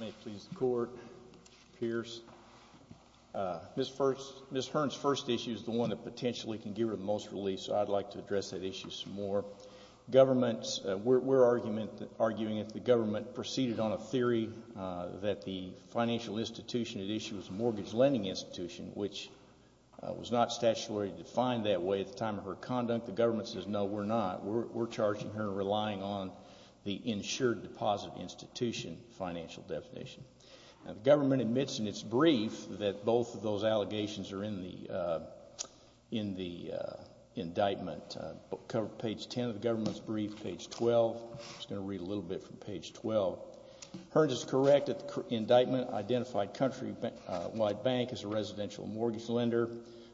May it please the Court, Pierce. Ms. Hearns' first issue is the one that potentially can give her the most relief, so I'd like to address that issue some more. We're arguing that the government proceeded on a theory that the financial institution at issue was a mortgage lending institution, which was not statutorily defined that way at the time of her conduct. The government says no, we're not. We're charging her relying on the insured deposit institution financial definition. The government admits in its brief that both of those allegations are in the indictment. Page 10 of the government's brief, page 12, I'm just going to read a little bit from page 12. Hearns is correct that the indictment identified Countrywide Bank as a residential mortgage lender,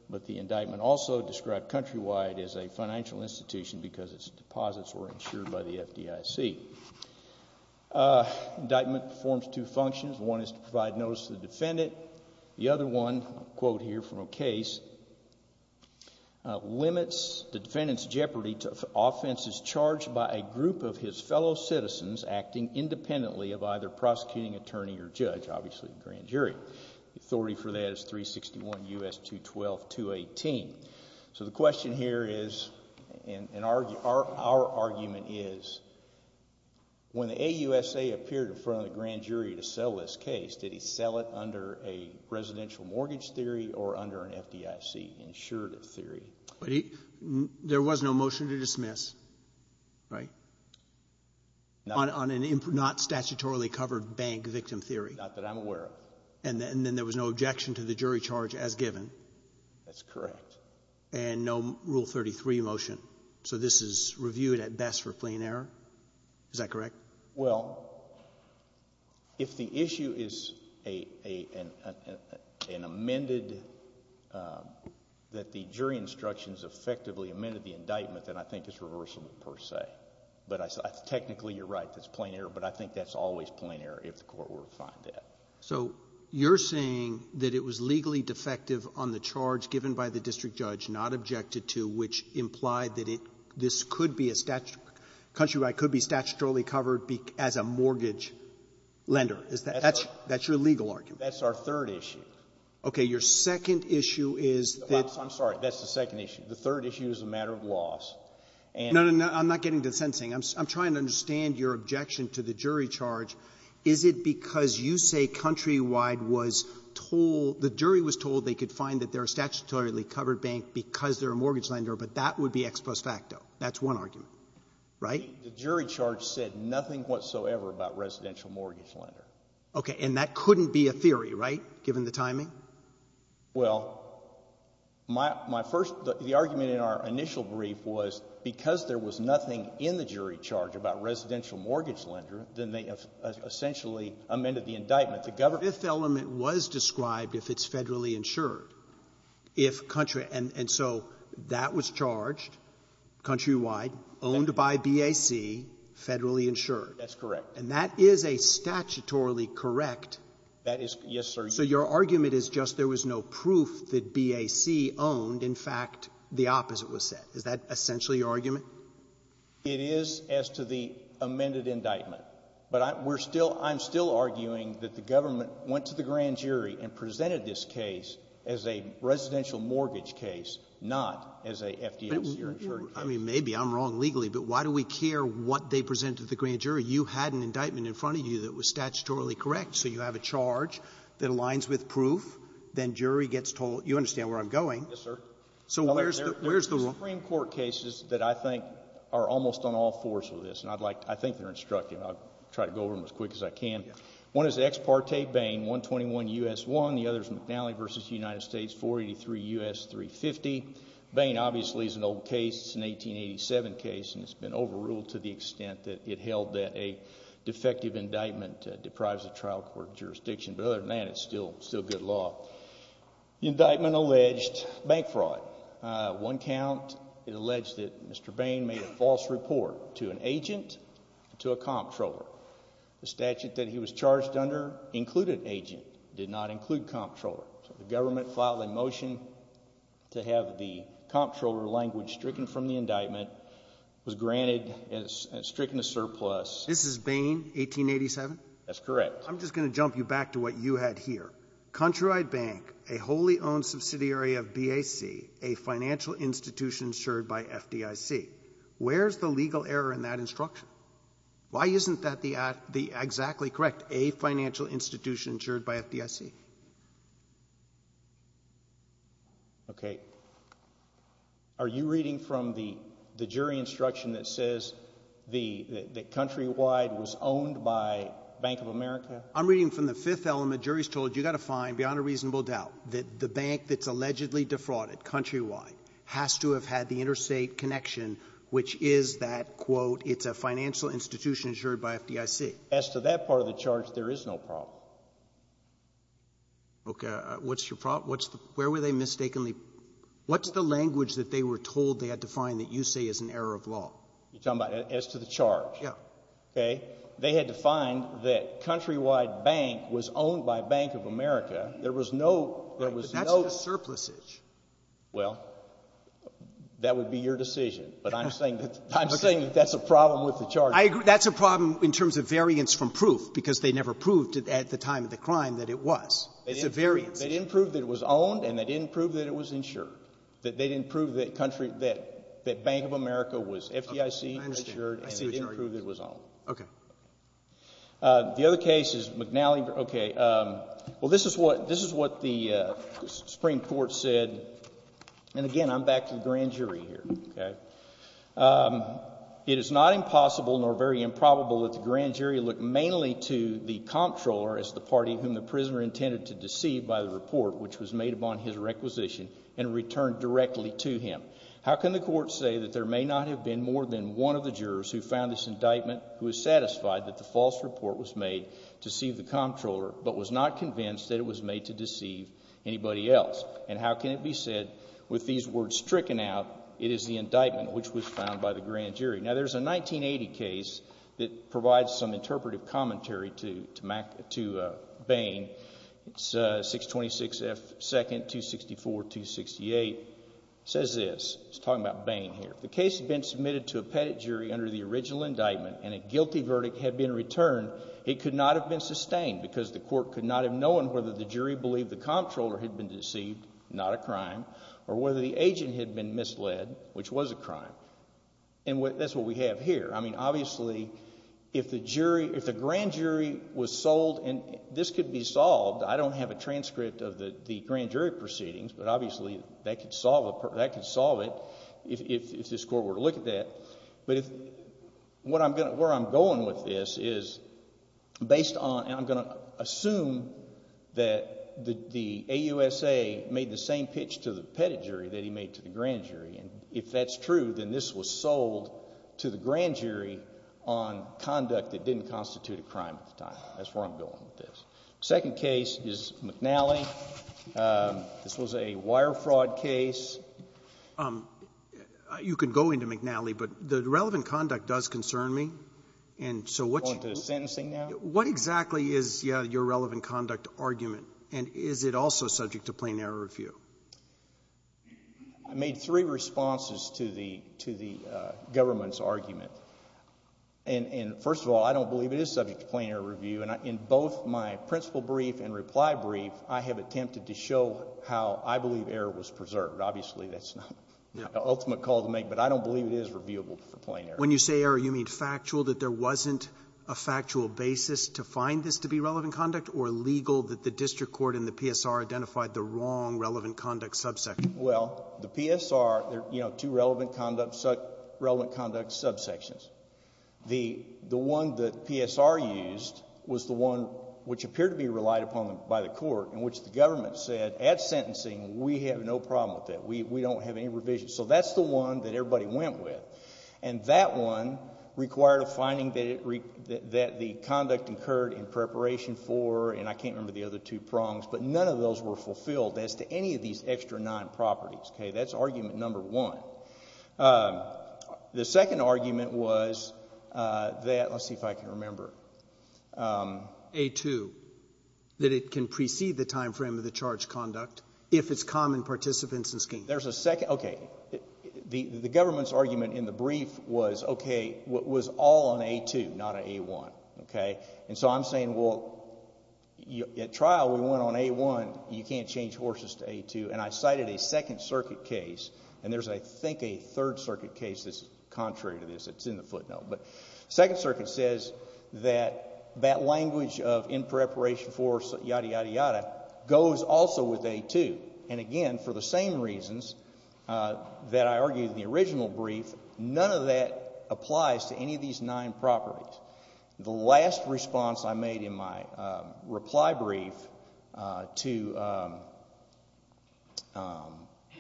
but the indictment also described Countrywide as a financial institution because its deposits were insured by the FDIC. The indictment performs two functions. One is to provide notice to the defendant. The other one, a quote here from a case, limits the defendant's jeopardy to offenses charged by a group of his fellow citizens acting independently of either prosecuting attorney or judge, obviously the grand jury. The authority for that is 361 U.S. 212 218. So the question here is, and our argument is, when the AUSA appeared in front of the grand jury to sell this case, did he sell it under a residential mortgage theory or under an FDIC insurative theory? There was no motion to dismiss, right? On a not statutorily covered bank victim theory. Not that I'm aware of. And then there was no objection to the jury charge as given. That's correct. And no Rule 33 motion. So this is reviewed at best for plea and error. Is that correct? Well, if the issue is an amended, that the jury instructions effectively amended the indictment, then I think it's reversible per se. But technically you're right, that's plea and error. But I think that's always plea and error if the court were to find that. So you're saying that it was legally defective on the charge given by the district judge, not objected to, which implied that it, this could be a statute, countrywide, could be statutorily covered as a mortgage lender. Is that, that's, that's your legal argument? That's our third issue. Okay. Your second issue is that. I'm sorry. That's the second issue. The third issue is a matter of laws. No, no, no. I'm not getting to the second thing. I'm trying to understand your objection to the jury charge. Is it because you say countrywide was told, the jury was told they could find that they're a statutorily covered bank because they're a mortgage lender, but that would be ex post facto? That's one argument, right? The jury charge said nothing whatsoever about residential mortgage lender. Okay. And that couldn't be a theory, right, given the timing? Well, my, my first, the argument in our initial brief was because there was nothing in the jury charge about residential mortgage lender, then they essentially amended the indictment. The fifth element was described if it's federally insured. If country, and so that was charged countrywide, owned by BAC, federally insured. That's correct. And that is a statutorily correct. That is, yes, sir. So your argument is just there was no proof that BAC owned. In fact, the opposite was said. Is that essentially your argument? It is as to the amended indictment, but we're still, I'm still arguing that the government went to the grand jury and presented this case as a residential mortgage case, not as a FDIC or insured case. I mean, maybe I'm wrong legally, but why do we care what they presented to the grand jury? You had an indictment in front of you that was statutorily correct. So you have a charge that aligns with proof. Then jury gets told, you understand where I'm going? Yes, sir. So where's the, where's the rule? There are two Supreme Court cases that I think are almost on all fours with this, and I'd like, I think they're instructive. I'll try to go over them as quick as I can. One is the Ex Parte Bain, 121 U.S. 1. The other is McNally v. United States, 483 U.S. 350. Bain obviously is an old case. It's an 1887 case, and it's been overruled to the extent that it held that a defective indictment deprives the trial court jurisdiction. But other than that, it's still, still good law. The indictment alleged bank fraud. One count, it alleged that Mr. Bain made a false report to an agent, to a comptroller. The statute that he was charged under included agent, did not include comptroller. So the government filed a motion to have the comptroller language stricken from the indictment, was granted, and it's stricken a surplus. This is Bain, 1887? That's correct. I'm just going to jump you back to what you had here. Countrywide Bank, a wholly owned subsidiary of BAC, a financial institution insured by FDIC. Where's the legal error in that instruction? Why isn't that the, the exactly correct, a financial institution insured by FDIC? Okay. Are you reading from the, the jury instruction that says the, that I'm reading from the fifth element. Jury's told you got to find, beyond a reasonable doubt, that the bank that's allegedly defrauded, countrywide, has to have had the interstate connection, which is that, quote, it's a financial institution insured by FDIC. As to that part of the charge, there is no problem. Okay. What's your problem? What's the, where were they mistakenly, what's the language that they were told they had to find that you say is an error of law? You're talking about as to the charge? Yeah. Okay. They had to find that Countrywide Bank was owned by Bank of America. There was no, there was no... But that's just surplusage. Well, that would be your decision, but I'm saying that, I'm saying that that's a problem with the charge. I agree. That's a problem in terms of variance from proof, because they never proved at the time of the crime that it was. It's a variance. They didn't prove that it was owned and they didn't prove that it was insured. That they didn't prove that country, that, that Bank of America was FDIC insured and they didn't prove it was owned. Okay. The other case is McNally. Okay. Well, this is what, this is what the Supreme Court said. And again, I'm back to the grand jury here. Okay. It is not impossible nor very improbable that the grand jury look mainly to the comptroller as the party whom the prisoner intended to deceive by the report, which was made upon his requisition and returned directly to him. How can the court say that there may not have been more than one of the jurors who found this indictment, who is satisfied that the false report was made to see the comptroller, but was not convinced that it was made to deceive anybody else? And how can it be said with these words stricken out, it is the indictment which was found by the grand jury. Now there's a 1980 case that provides some interpretive commentary to, to Mac, to Bain. It's a 626 F 2nd, 264, 268 says this. It's talking about Bain here. The case has been submitted to a pettit jury under the original indictment and a guilty verdict had been returned. It could not have been sustained because the court could not have known whether the jury believed the comptroller had been deceived, not a crime or whether the agent had been misled, which was a crime. And that's what we have here. I mean, obviously if the jury, if the grand jury was sold and this could be solved, I don't have a transcript of the grand jury proceedings, but obviously that could solve, that could solve it. If, if, if this court were to look at that, but if what I'm going to, where I'm going with this is based on, and I'm going to assume that the, the AUSA made the same pitch to the pettit jury that he made to the grand jury. And if that's true, then this was sold to the grand jury on conduct that didn't constitute a crime at the time. That's a wire fraud case. You can go into McNally, but the relevant conduct does concern me. And so what's Going to the sentencing now? What exactly is your relevant conduct argument? And is it also subject to plain error review? I made three responses to the, to the government's argument. And, and first of all, I don't believe it is subject to plain error review. And in both my I believe error was preserved. Obviously that's not the ultimate call to make, but I don't believe it is reviewable for plain error. When you say error, you mean factual, that there wasn't a factual basis to find this to be relevant conduct or legal that the district court and the PSR identified the wrong relevant conduct subsection? Well, the PSR, you know, two relevant conduct, relevant conduct subsections. The, the one that PSR used was the one which appeared to be relied upon by the We have no problem with that. We, we don't have any revision. So that's the one that everybody went with. And that one required a finding that it, that the conduct incurred in preparation for, and I can't remember the other two prongs, but none of those were fulfilled as to any of these extra nine properties. Okay? That's argument number one. The second argument was that, let's see if I can remember. A2, that it can precede the timeframe of the charge conduct if it's common participants in the scheme. There's a second, okay. The, the government's argument in the brief was, okay, what was all on A2, not on A1. Okay. And so I'm saying, well, at trial, we went on A1. You can't change horses to A2. And I cited a second circuit case, and there's, I think, a third circuit case that's contrary to this. It's in the footnote. But second circuit says that that language of in preparation for yada yada yada goes also with A2. And again, for the same reasons that I argued in the original brief, none of that applies to any of these nine properties. The last response I made in my reply brief to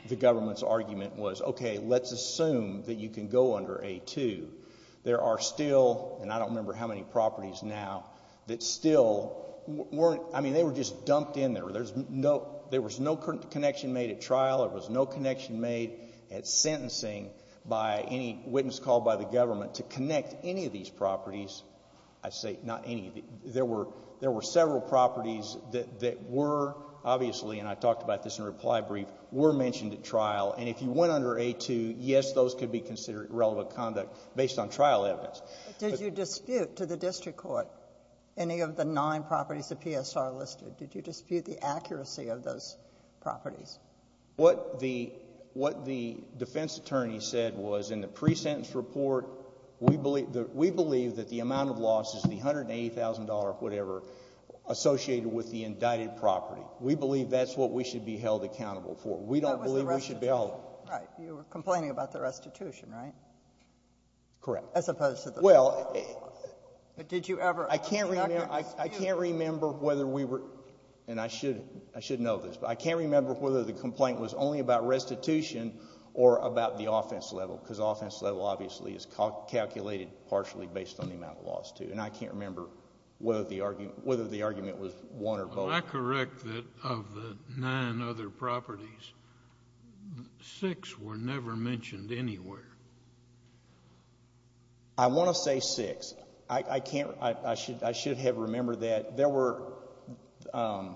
the government's argument was, okay, let's assume that you can go under A2. There are still, and I don't remember how many properties now, that still weren't, I mean, they were just dumped in there. There's no, there was no connection made at trial. There was no connection made at sentencing by any witness called by the government to connect any of these properties. I say not any. There were, there were several properties that, that were obviously, and I talked about this in reply brief, were mentioned at trial. And if you went under A2, yes, those could be considered irrelevant conduct based on trial evidence. Did you dispute to the district court any of the nine properties the PSR listed? Did you dispute the accuracy of those properties? What the, what the defense attorney said was in the pre-sentence report, we believe, we believe that the amount of losses, the $180,000 or whatever, associated with the indicted property. We believe that's what we should be held accountable for. We don't believe we should be held... Right. You were complaining about the restitution, right? Correct. As opposed to the... Well... But did you ever... I can't remember, I can't remember whether we were, and I should, I should know this, but I can't remember whether the complaint was only about restitution or about the offense level, because offense level obviously is calculated partially based on the amount of loss, too. And I can't remember whether the argument, whether the argument was one or both. Am I correct that of the nine other properties, six were never mentioned anywhere? I want to say six. I can't, I should, I should have remembered that. There were, I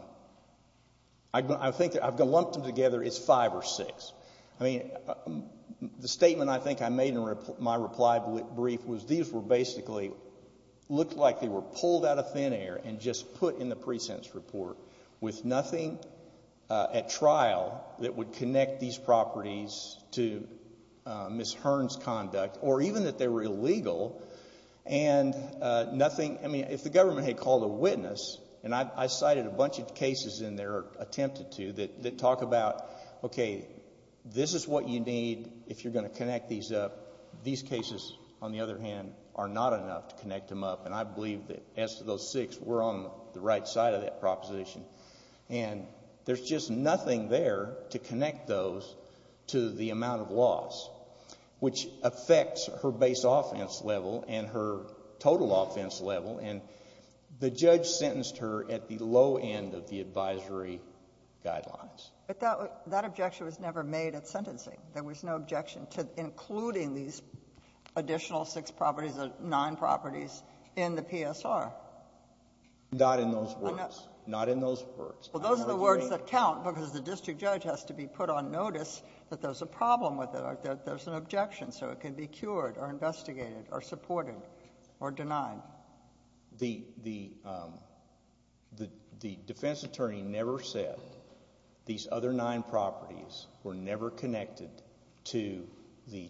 think, I've lumped them together, it's five or six. I mean, the statement I think I made in my reply brief was these were basically, looked like they were pulled out of thin air and just put in the pre-sentence report, with nothing at trial that would connect these properties to Ms. Hearn's conduct, or even that they were illegal, and nothing, I mean, if the government had called a witness, and I cited a bunch of cases in there, attempted to, that talk about, okay, this is what you need if you're going to connect these up. These cases, on the other hand, are not enough to connect them to that proposition. And there's just nothing there to connect those to the amount of loss, which affects her base offense level and her total offense level, and the judge sentenced her at the low end of the advisory guidelines. But that objection was never made at sentencing. There was no objection to including these additional six properties or nine properties in the PSR. Not in those words. Not in those words. Well, those are the words that count, because the district judge has to be put on notice that there's a problem with it, or that there's an objection, so it can be cured, or investigated, or supported, or denied. The defense attorney never said these other nine properties were never connected to the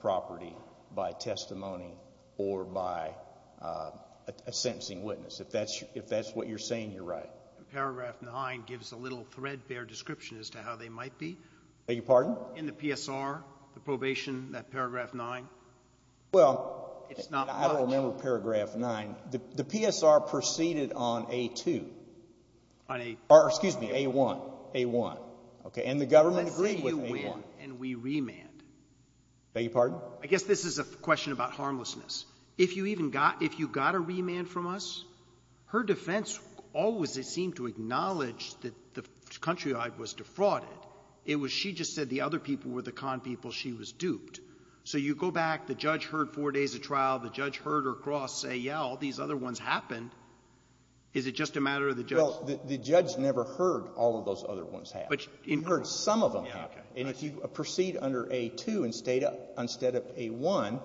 property by testimony or by a sentencing witness. If that's what you're saying, you're right. Paragraph nine gives a little threadbare description as to how they might be. Beg your pardon? In the PSR, the probation, that paragraph nine. Well, I don't remember paragraph nine. The PSR proceeded on A-2. On A-1. Excuse me, A-1. And the government agreed with A-1. And we remanded. Beg your pardon? I guess this is a question about harmlessness. If you even got, if you got a remand from us, her defense always seemed to acknowledge that the country was defrauded. It was she just said the other people were the con people. She was duped. So you go back, the judge heard four days of trial, the judge heard her cross say, yeah, all these other ones happened. Is it just a matter of the judge? The judge never heard all of those other ones happen. But in her case. And if you proceed under A-2 instead of A-1,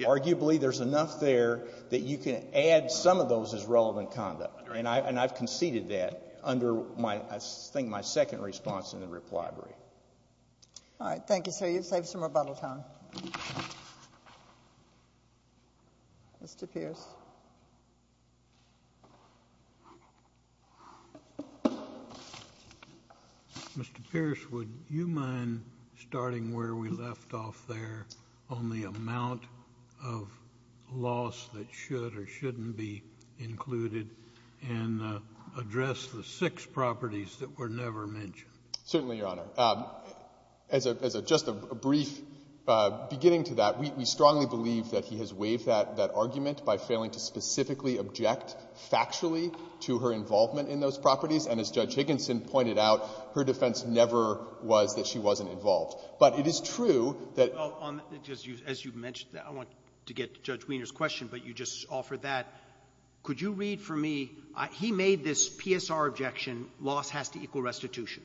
arguably there's enough there that you can add some of those as relevant conduct. And I've conceded that under my, I think my second response in the reply brief. All right. Thank you, sir. You've saved some rebuttal time. Mr. Pierce. Mr. Pierce, would you mind starting where we left off there on the amount of loss that should or shouldn't be included and address the six properties that were never mentioned? Certainly, Your Honor. As a, as a, just a brief beginning to that, we strongly believe that he has waived that, that argument by failing to specifically object factually to her involvement in those properties. And as Judge Higginson pointed out, her defense never was that she wasn't involved. But it is true that. As you mentioned, I want to get to Judge Wiener's question, but you just offered that. Could you read for me, he made this PSR objection, loss has to equal restitution.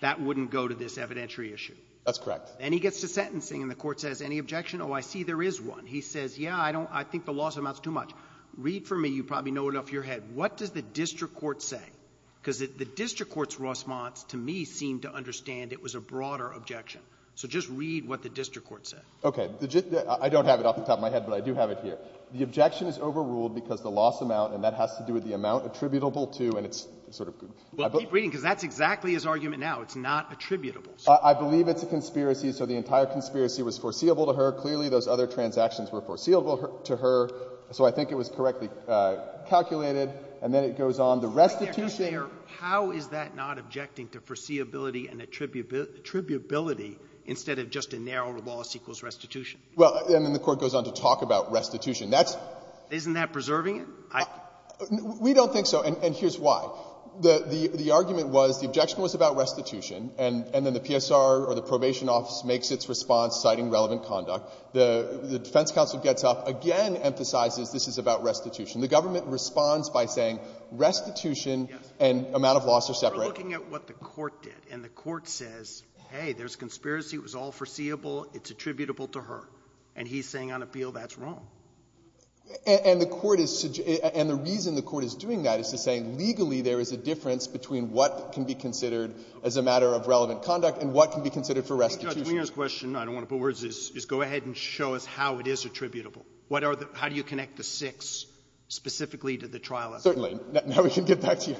That wouldn't go to this evidentiary issue. That's correct. And he gets to sentencing and the court says, any objection? Oh, I see there is one. He says, yeah, I don't, I think the loss amounts too much. Read for me, you probably know it off your head. What does the district court say? Because the district court's response to me seemed to understand it was a broader objection. So just read what the district court said. Okay. I don't have it off the top of my head, but I do have it here. The objection is overruled because the loss amount, and that has to do with the amount attributable to, and it's sort of. Well, keep reading because that's exactly his argument now. It's not attributable. I believe it's a conspiracy. So the entire conspiracy was foreseeable to her. Clearly, those other transactions were foreseeable to her. So I think it was correctly calculated. And then it goes on. The restitution. But, Your Honor, how is that not objecting to foreseeability and attributability instead of just a narrow loss equals restitution? Well, and then the court goes on to talk about restitution. That's. Isn't that preserving it? We don't think so, and here's why. The argument was the objection was about restitution, and then the PSR or the probation office makes its response citing relevant conduct. The defense counsel gets up, again emphasizes this is about restitution. The government responds by saying restitution and amount of loss are separate. We're looking at what the court did, and the court says, hey, there's a conspiracy. It was all foreseeable. It's attributable to her. And he's saying on appeal that's wrong. And the court is, and the reason the court is doing that is to say legally there is a difference between what can be considered as a matter of relevant conduct and what can be considered for restitution. Judge, my last question, I don't want to put words, is go ahead and show us how it is attributable. What are the, how do you connect the six specifically to the trial evidence? Certainly. Now we can get back to you.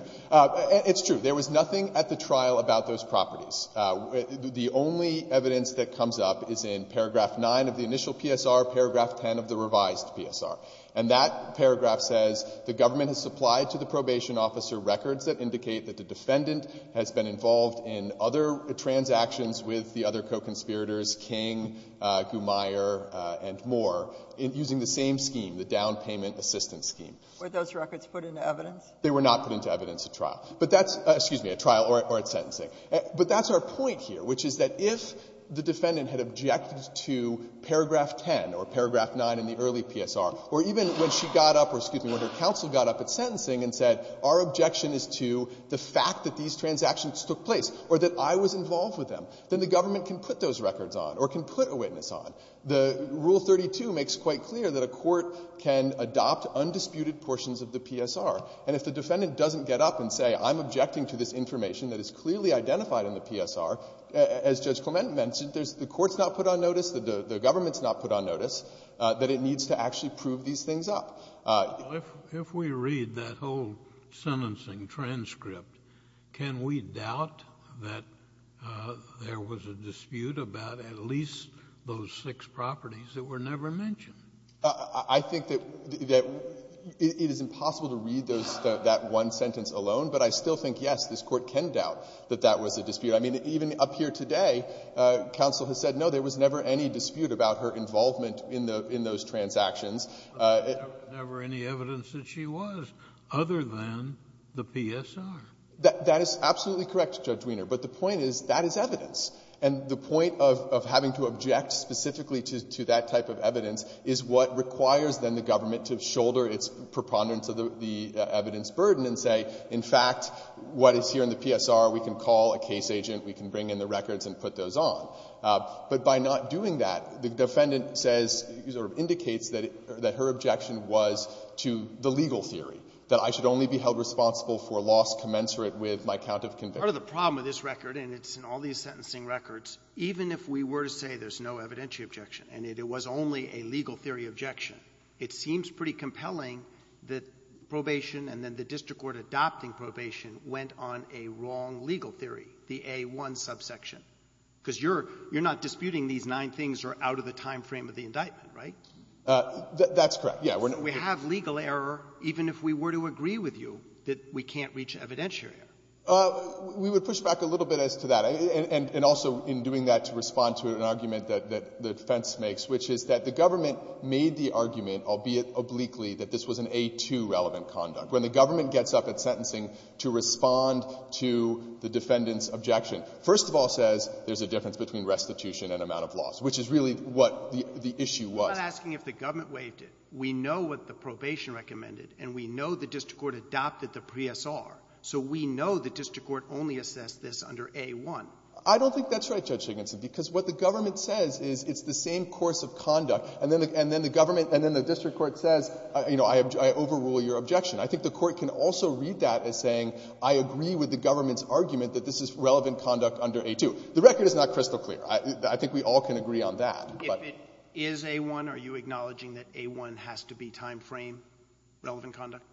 It's true. There was nothing at the trial about those properties. The only evidence that comes up is in paragraph 9 of the initial PSR, paragraph 10 of the revised PSR. And that paragraph says the government has supplied to the probation officer records that indicate that the defendant has been involved in other transactions with the other co-conspirators, King, Gumayor, and more, using the same scheme, the down payment assistance scheme. Were those records put into evidence? They were not put into evidence at trial. But that's, excuse me, at trial or at sentencing. But that's our point here, which is that if the defendant had objected to paragraph 10 or paragraph 9 in the early PSR, or even when she got up or, excuse me, when her counsel got up at sentencing and said our objection is to the fact that these transactions took place or that I was involved with them, then the government can put those records on or can put a witness on. The Rule 32 makes quite clear that a court can adopt undisputed portions of the PSR. And if the defendant doesn't get up and say, I'm objecting to this information that is clearly identified in the PSR, as Judge Clement mentioned, the court's not put on notice, the government's not put on notice, that it needs to actually prove these things up. If we read that whole sentencing transcript, can we doubt that there was a dispute about at least those six properties that were never mentioned? I think that it is impossible to read that one sentence alone. But I still think, yes, this Court can doubt that that was a dispute. I mean, even up here today, counsel has said, no, there was never any dispute about her involvement in those transactions. There was never any evidence that she was, other than the PSR. That is absolutely correct, Judge Weiner. But the point is, that is evidence. And the point of having to object specifically to that type of evidence is what requires, then, the government to shoulder its preponderance of the evidence burden and say, in fact, what is here in the PSR, we can call a case agent, we can bring in the records and put those on. But by not doing that, the defendant says, sort of indicates that her objection was to the legal theory, that I should only be held responsible for loss commensurate with my count of conviction. Part of the problem with this record, and it's in all these sentencing records, even if we were to say there's no evidentiary objection and it was only a legal theory objection, it seems pretty compelling that probation and then the district court adopting probation went on a wrong legal theory, the A-1 subsection. Because you're not disputing these nine things are out of the time frame of the indictment, right? That's correct, yeah. We have legal error, even if we were to agree with you, that we can't reach evidentiary error. We would push back a little bit as to that. And also, in doing that, to respond to an argument that the defense makes, which is that the government made the argument, albeit obliquely, that this was an A-2 relevant conduct. When the government gets up at sentencing to respond to the defendant's objection, first of all says there's a difference between restitution and amount of loss, which is really what the issue was. I'm not asking if the government waived it. We know what the probation recommended, and we know the district court adopted the PSR. So we know the district court only assessed this under A-1. I don't think that's right, Judge Siginson, because what the government says is it's the same course of conduct. And then the government and then the district court says, you know, I overrule your objection. I think the court can also read that as saying I agree with the government's relevant conduct under A-2. The record is not crystal clear. I think we all can agree on that, but — If it is A-1, are you acknowledging that A-1 has to be timeframe relevant conduct?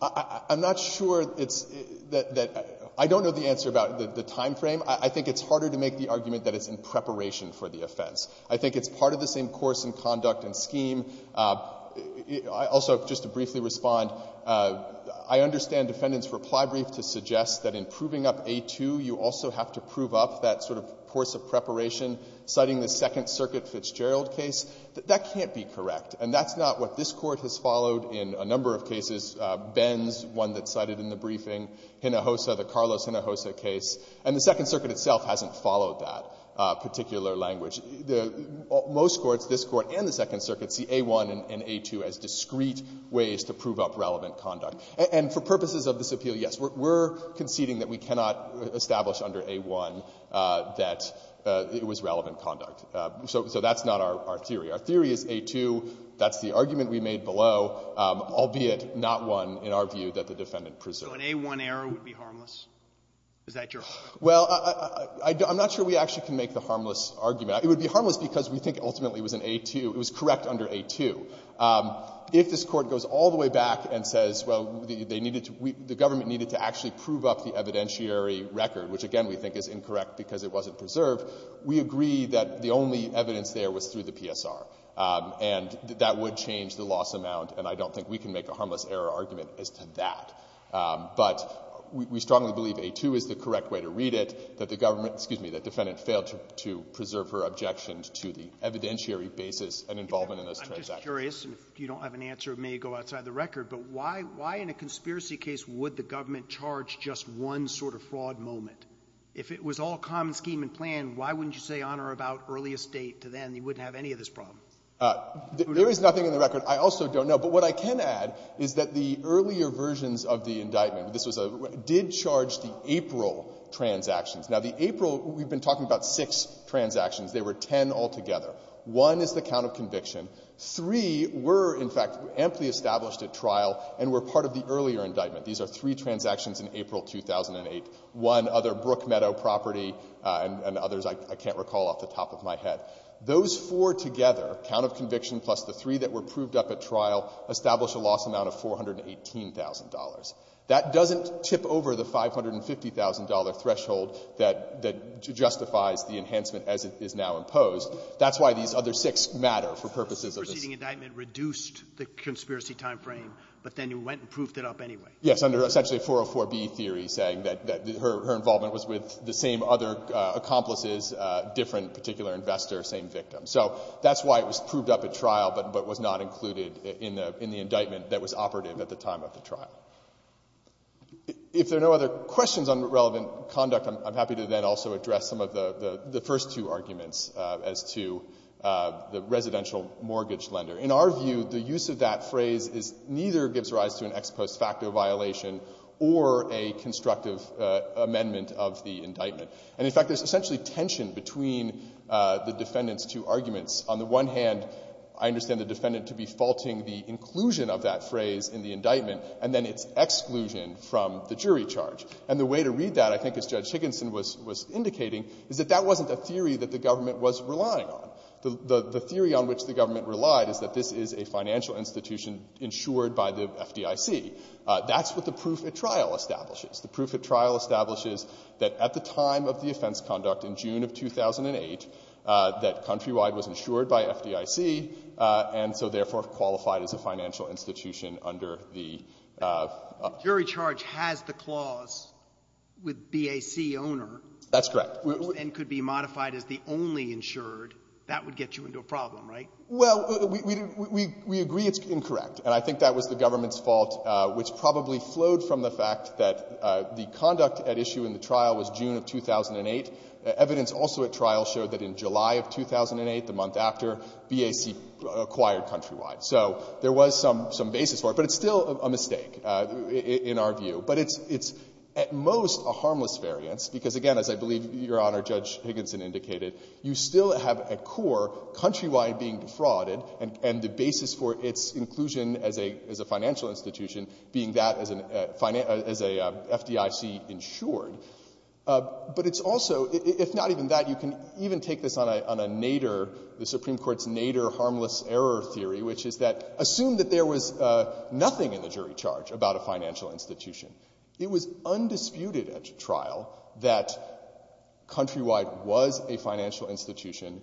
I'm not sure it's — that — I don't know the answer about the timeframe. I think it's harder to make the argument that it's in preparation for the offense. I think it's part of the same course and conduct and scheme. Also, just to briefly respond, I understand Defendant's reply brief to suggest that in proving up A-2, you also have to prove up that sort of course of preparation citing the Second Circuit Fitzgerald case. That can't be correct, and that's not what this Court has followed in a number of cases, Ben's one that's cited in the briefing, Hinojosa, the Carlos Hinojosa case. And the Second Circuit itself hasn't followed that particular language. Most courts, this Court and the Second Circuit, see A-1 and A-2 as discrete ways to prove up relevant conduct. And for purposes of this appeal, yes, we're conceding that we cannot establish under A-1 that it was relevant conduct. So that's not our theory. Our theory is A-2, that's the argument we made below, albeit not one, in our view, that the Defendant preserved. So an A-1 error would be harmless? Is that your point? Well, I'm not sure we actually can make the harmless argument. It would be harmless because we think ultimately it was an A-2. It was correct under A-2. If this Court goes all the way back and says, well, they needed to — the government needed to actually prove up the evidentiary record, which again we think is incorrect because it wasn't preserved, we agree that the only evidence there was through the PSR. And that would change the loss amount, and I don't think we can make a harmless error argument as to that. But we strongly believe A-2 is the correct way to read it, that the government — excuse me, that the Defendant failed to preserve her objection to the evidentiary basis and involvement in those transactions. I'm just curious, and if you don't have an answer, it may go outside the record, but why in a conspiracy case would the government charge just one sort of fraud moment? If it was all common scheme and plan, why wouldn't you say on or about earliest date to then, you wouldn't have any of this problem? There is nothing in the record. I also don't know. But what I can add is that the earlier versions of the indictment, this was a — did charge the April transactions. Now, the April, we've been talking about six transactions. There were ten altogether. One is the count of conviction. Three were, in fact, amply established at trial and were part of the earlier indictment. These are three transactions in April 2008. One, other Brookmeadow property, and others I can't recall off the top of my head. Those four together, count of conviction plus the three that were proved up at trial, establish a loss amount of $418,000. That doesn't tip over the $550,000 threshold that justifies the enhancement as it is now imposed. That's why these other six matter for purposes of this — The preceding indictment reduced the conspiracy timeframe, but then you went and proofed it up anyway. Yes, under essentially 404B theory saying that her involvement was with the same other accomplices, different particular investors, same victims. So that's why it was proved up at trial, but was not included in the indictment that was operative at the time of the trial. If there are no other questions on relevant conduct, I'm happy to then also address some of the first two arguments as to the residential mortgage lender. In our view, the use of that phrase is — neither gives rise to an ex post facto violation or a constructive amendment of the indictment. And in fact, there's essentially tension between the defendant's two arguments. On the one hand, I understand the defendant to be faulting the inclusion of that phrase in the indictment, and then its exclusion from the jury charge. And the way to read that, I think as Judge Higginson was indicating, is that that wasn't a theory that the government was relying on. The theory on which the government relied is that this is a financial institution insured by the FDIC. That's what the proof at trial establishes. The proof at trial establishes that at the time of the offense conduct in June of 2008, that Countrywide was insured by FDIC, and so therefore qualified as a financial institution under the — with BAC owner. That's correct. And could be modified as the only insured. That would get you into a problem, right? Well, we agree it's incorrect. And I think that was the government's fault, which probably flowed from the fact that the conduct at issue in the trial was June of 2008. Evidence also at trial showed that in July of 2008, the month after, BAC acquired Countrywide. So there was some basis for it. But it's still a mistake in our view. But it's at most a harmless variance, because again, as I believe Your Honor, Judge Higginson indicated, you still have at core Countrywide being defrauded and the basis for its inclusion as a financial institution being that as a FDIC insured. But it's also — if not even that, you can even take this on a Nader — the Supreme Court's Nader harmless error theory, which is that assume that there was nothing in the jury charge about a financial institution. It was undisputed at trial that Countrywide was a financial institution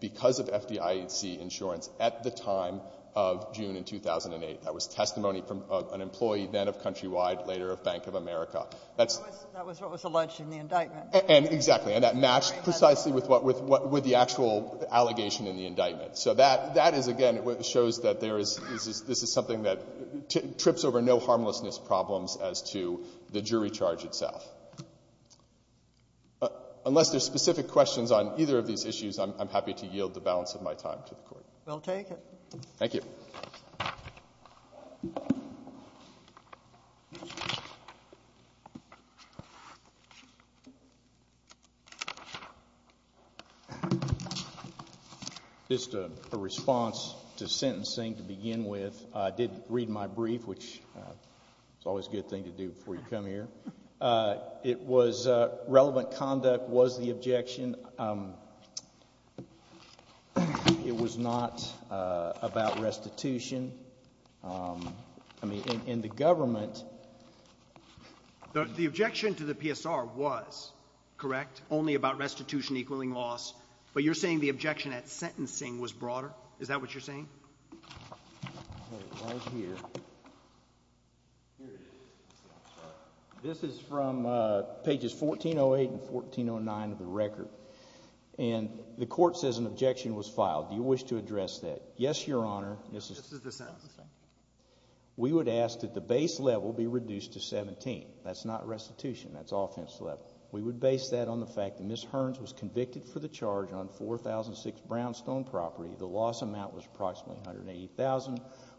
because of FDIC insurance at the time of June in 2008. That was testimony from an employee then of Countrywide, later of Bank of America. That's — That was what was alleged in the indictment. And exactly. And that matched precisely with the actual allegation in the indictment. So that is, again, what shows that there is — this is something that trips over no-harmlessness problems as to the jury charge itself. Unless there's specific questions on either of these issues, I'm happy to yield the balance of my time to the Court. We'll take it. Thank you. Thank you. Just a response to sentencing to begin with. I did read my brief, which is always a good thing to do before you come here. It was — relevant conduct was the objection. It was not about restitution. I mean, in the government — The objection to the PSR was correct, only about restitution equaling loss. But you're saying the objection at sentencing was broader? Is that what you're saying? Here it is. This is from pages 1408 and 1409 of the record. And the Court says an objection was filed. Do you wish to address that? Yes, Your Honor. This is the sentencing. We would ask that the base level be reduced to 17. That's not restitution. That's offense level. We would base that on the fact that Ms. Hearns was convicted for the charge on 4006 Brownstone property. The loss amount was approximately $180,000.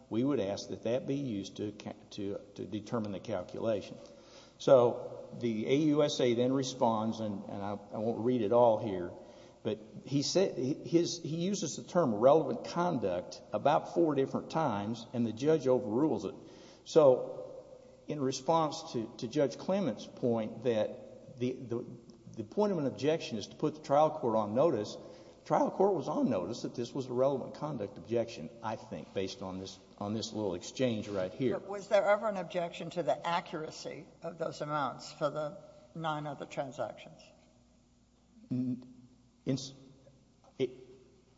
We would ask that that be used to determine the calculation. So the AUSA then responds, and I won't read it all here, but he uses the term relevant conduct about four different times, and the judge overrules it. So in response to Judge Clement's point that the point of an objection is to put the trial court on notice, the trial court was on notice that this was a relevant conduct objection, I think, based on this little exchange right here. Was there ever an objection to the accuracy of those amounts for the nine other transactions?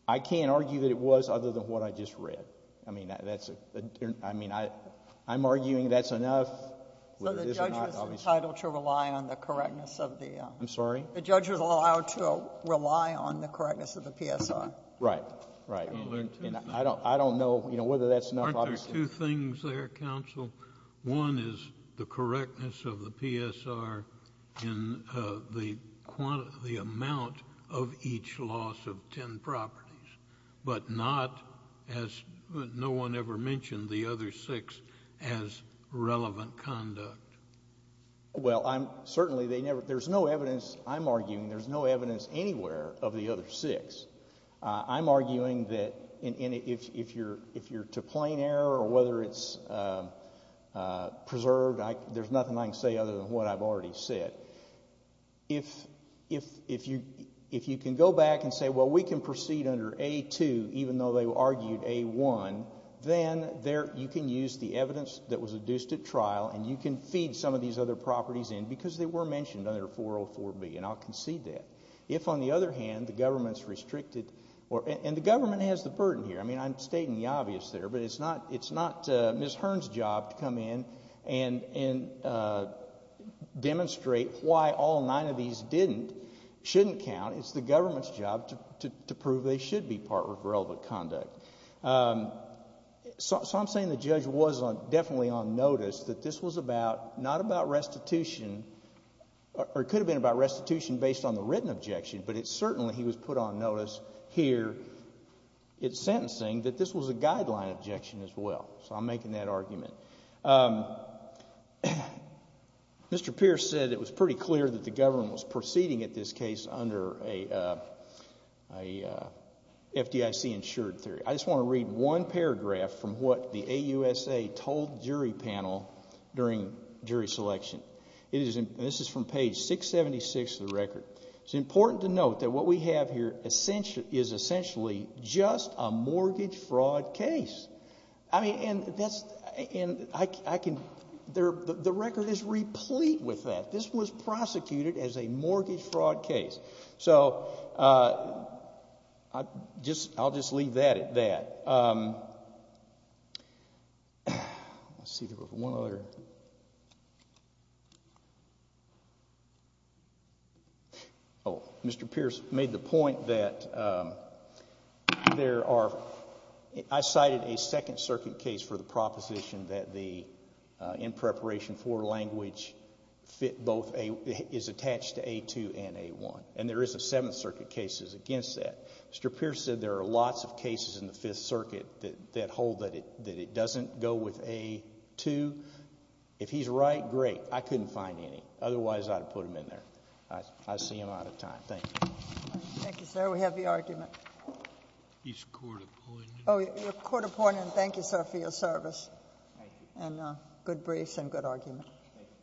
I can't argue that it was other than what I just read. I mean, I'm arguing that's enough. So the judge was entitled to rely on the correctness of the... I'm sorry? The judge was allowed to rely on the correctness of the PSR. Right. And I don't know, you know, whether that's enough, obviously... Aren't there two things there, counsel? One is the correctness of the PSR in the amount of each loss of ten properties, but not, as no one ever mentioned, the other six as relevant conduct. Well, I'm... certainly they never... there's no evidence, I'm arguing, there's no evidence anywhere of the other six. I'm arguing that if you're to plain error or whether it's preserved, there's nothing I can say other than what I've already said. If you can go back and say, well, we can proceed under A2, even though they argued A1, then you can use the evidence that was adduced at trial and you can feed some of these other properties in because they were mentioned under 404B, and I'll concede that. If, on the other hand, the government's restricted... and the government has the burden here. I mean, I'm stating the obvious there, but it's not Ms. Hearn's job to come in and demonstrate why all nine of these didn't, shouldn't count. It's the government's job to prove they should be part of relevant conduct. So I'm saying the judge was definitely on notice that this was about... not about restitution based on the written objection, but it's certainly he was put on notice here in sentencing that this was a guideline objection as well, so I'm making that argument. Mr. Pierce said it was pretty clear that the government was proceeding at this case under a FDIC insured theory. I just want to read one paragraph from what the AUSA told jury panel during jury selection. This is from page 676 of the record. It's important to note that what we have here is essentially just a mortgage fraud case. I mean, and that's... and I can... the record is replete with that. This was prosecuted as a mortgage fraud case. So I'll just leave that at that. Let's see if we have one other... Mr. Pierce made the point that there are... I cited a Second Circuit case for the proposition that the in preparation for language fit both a... is attached to A2 and A1, and there is a Seventh Circuit case against that. Mr. Pierce said there are lots of cases in the Fifth Circuit that hold that it doesn't go with A2. If he's right, great. I couldn't find any. Otherwise, I'd have put him in there. I see him out of time. Thank you. Thank you, sir. We have the argument. He's court-appointed. Oh, you're court-appointed. Thank you, sir, for your service. Thank you.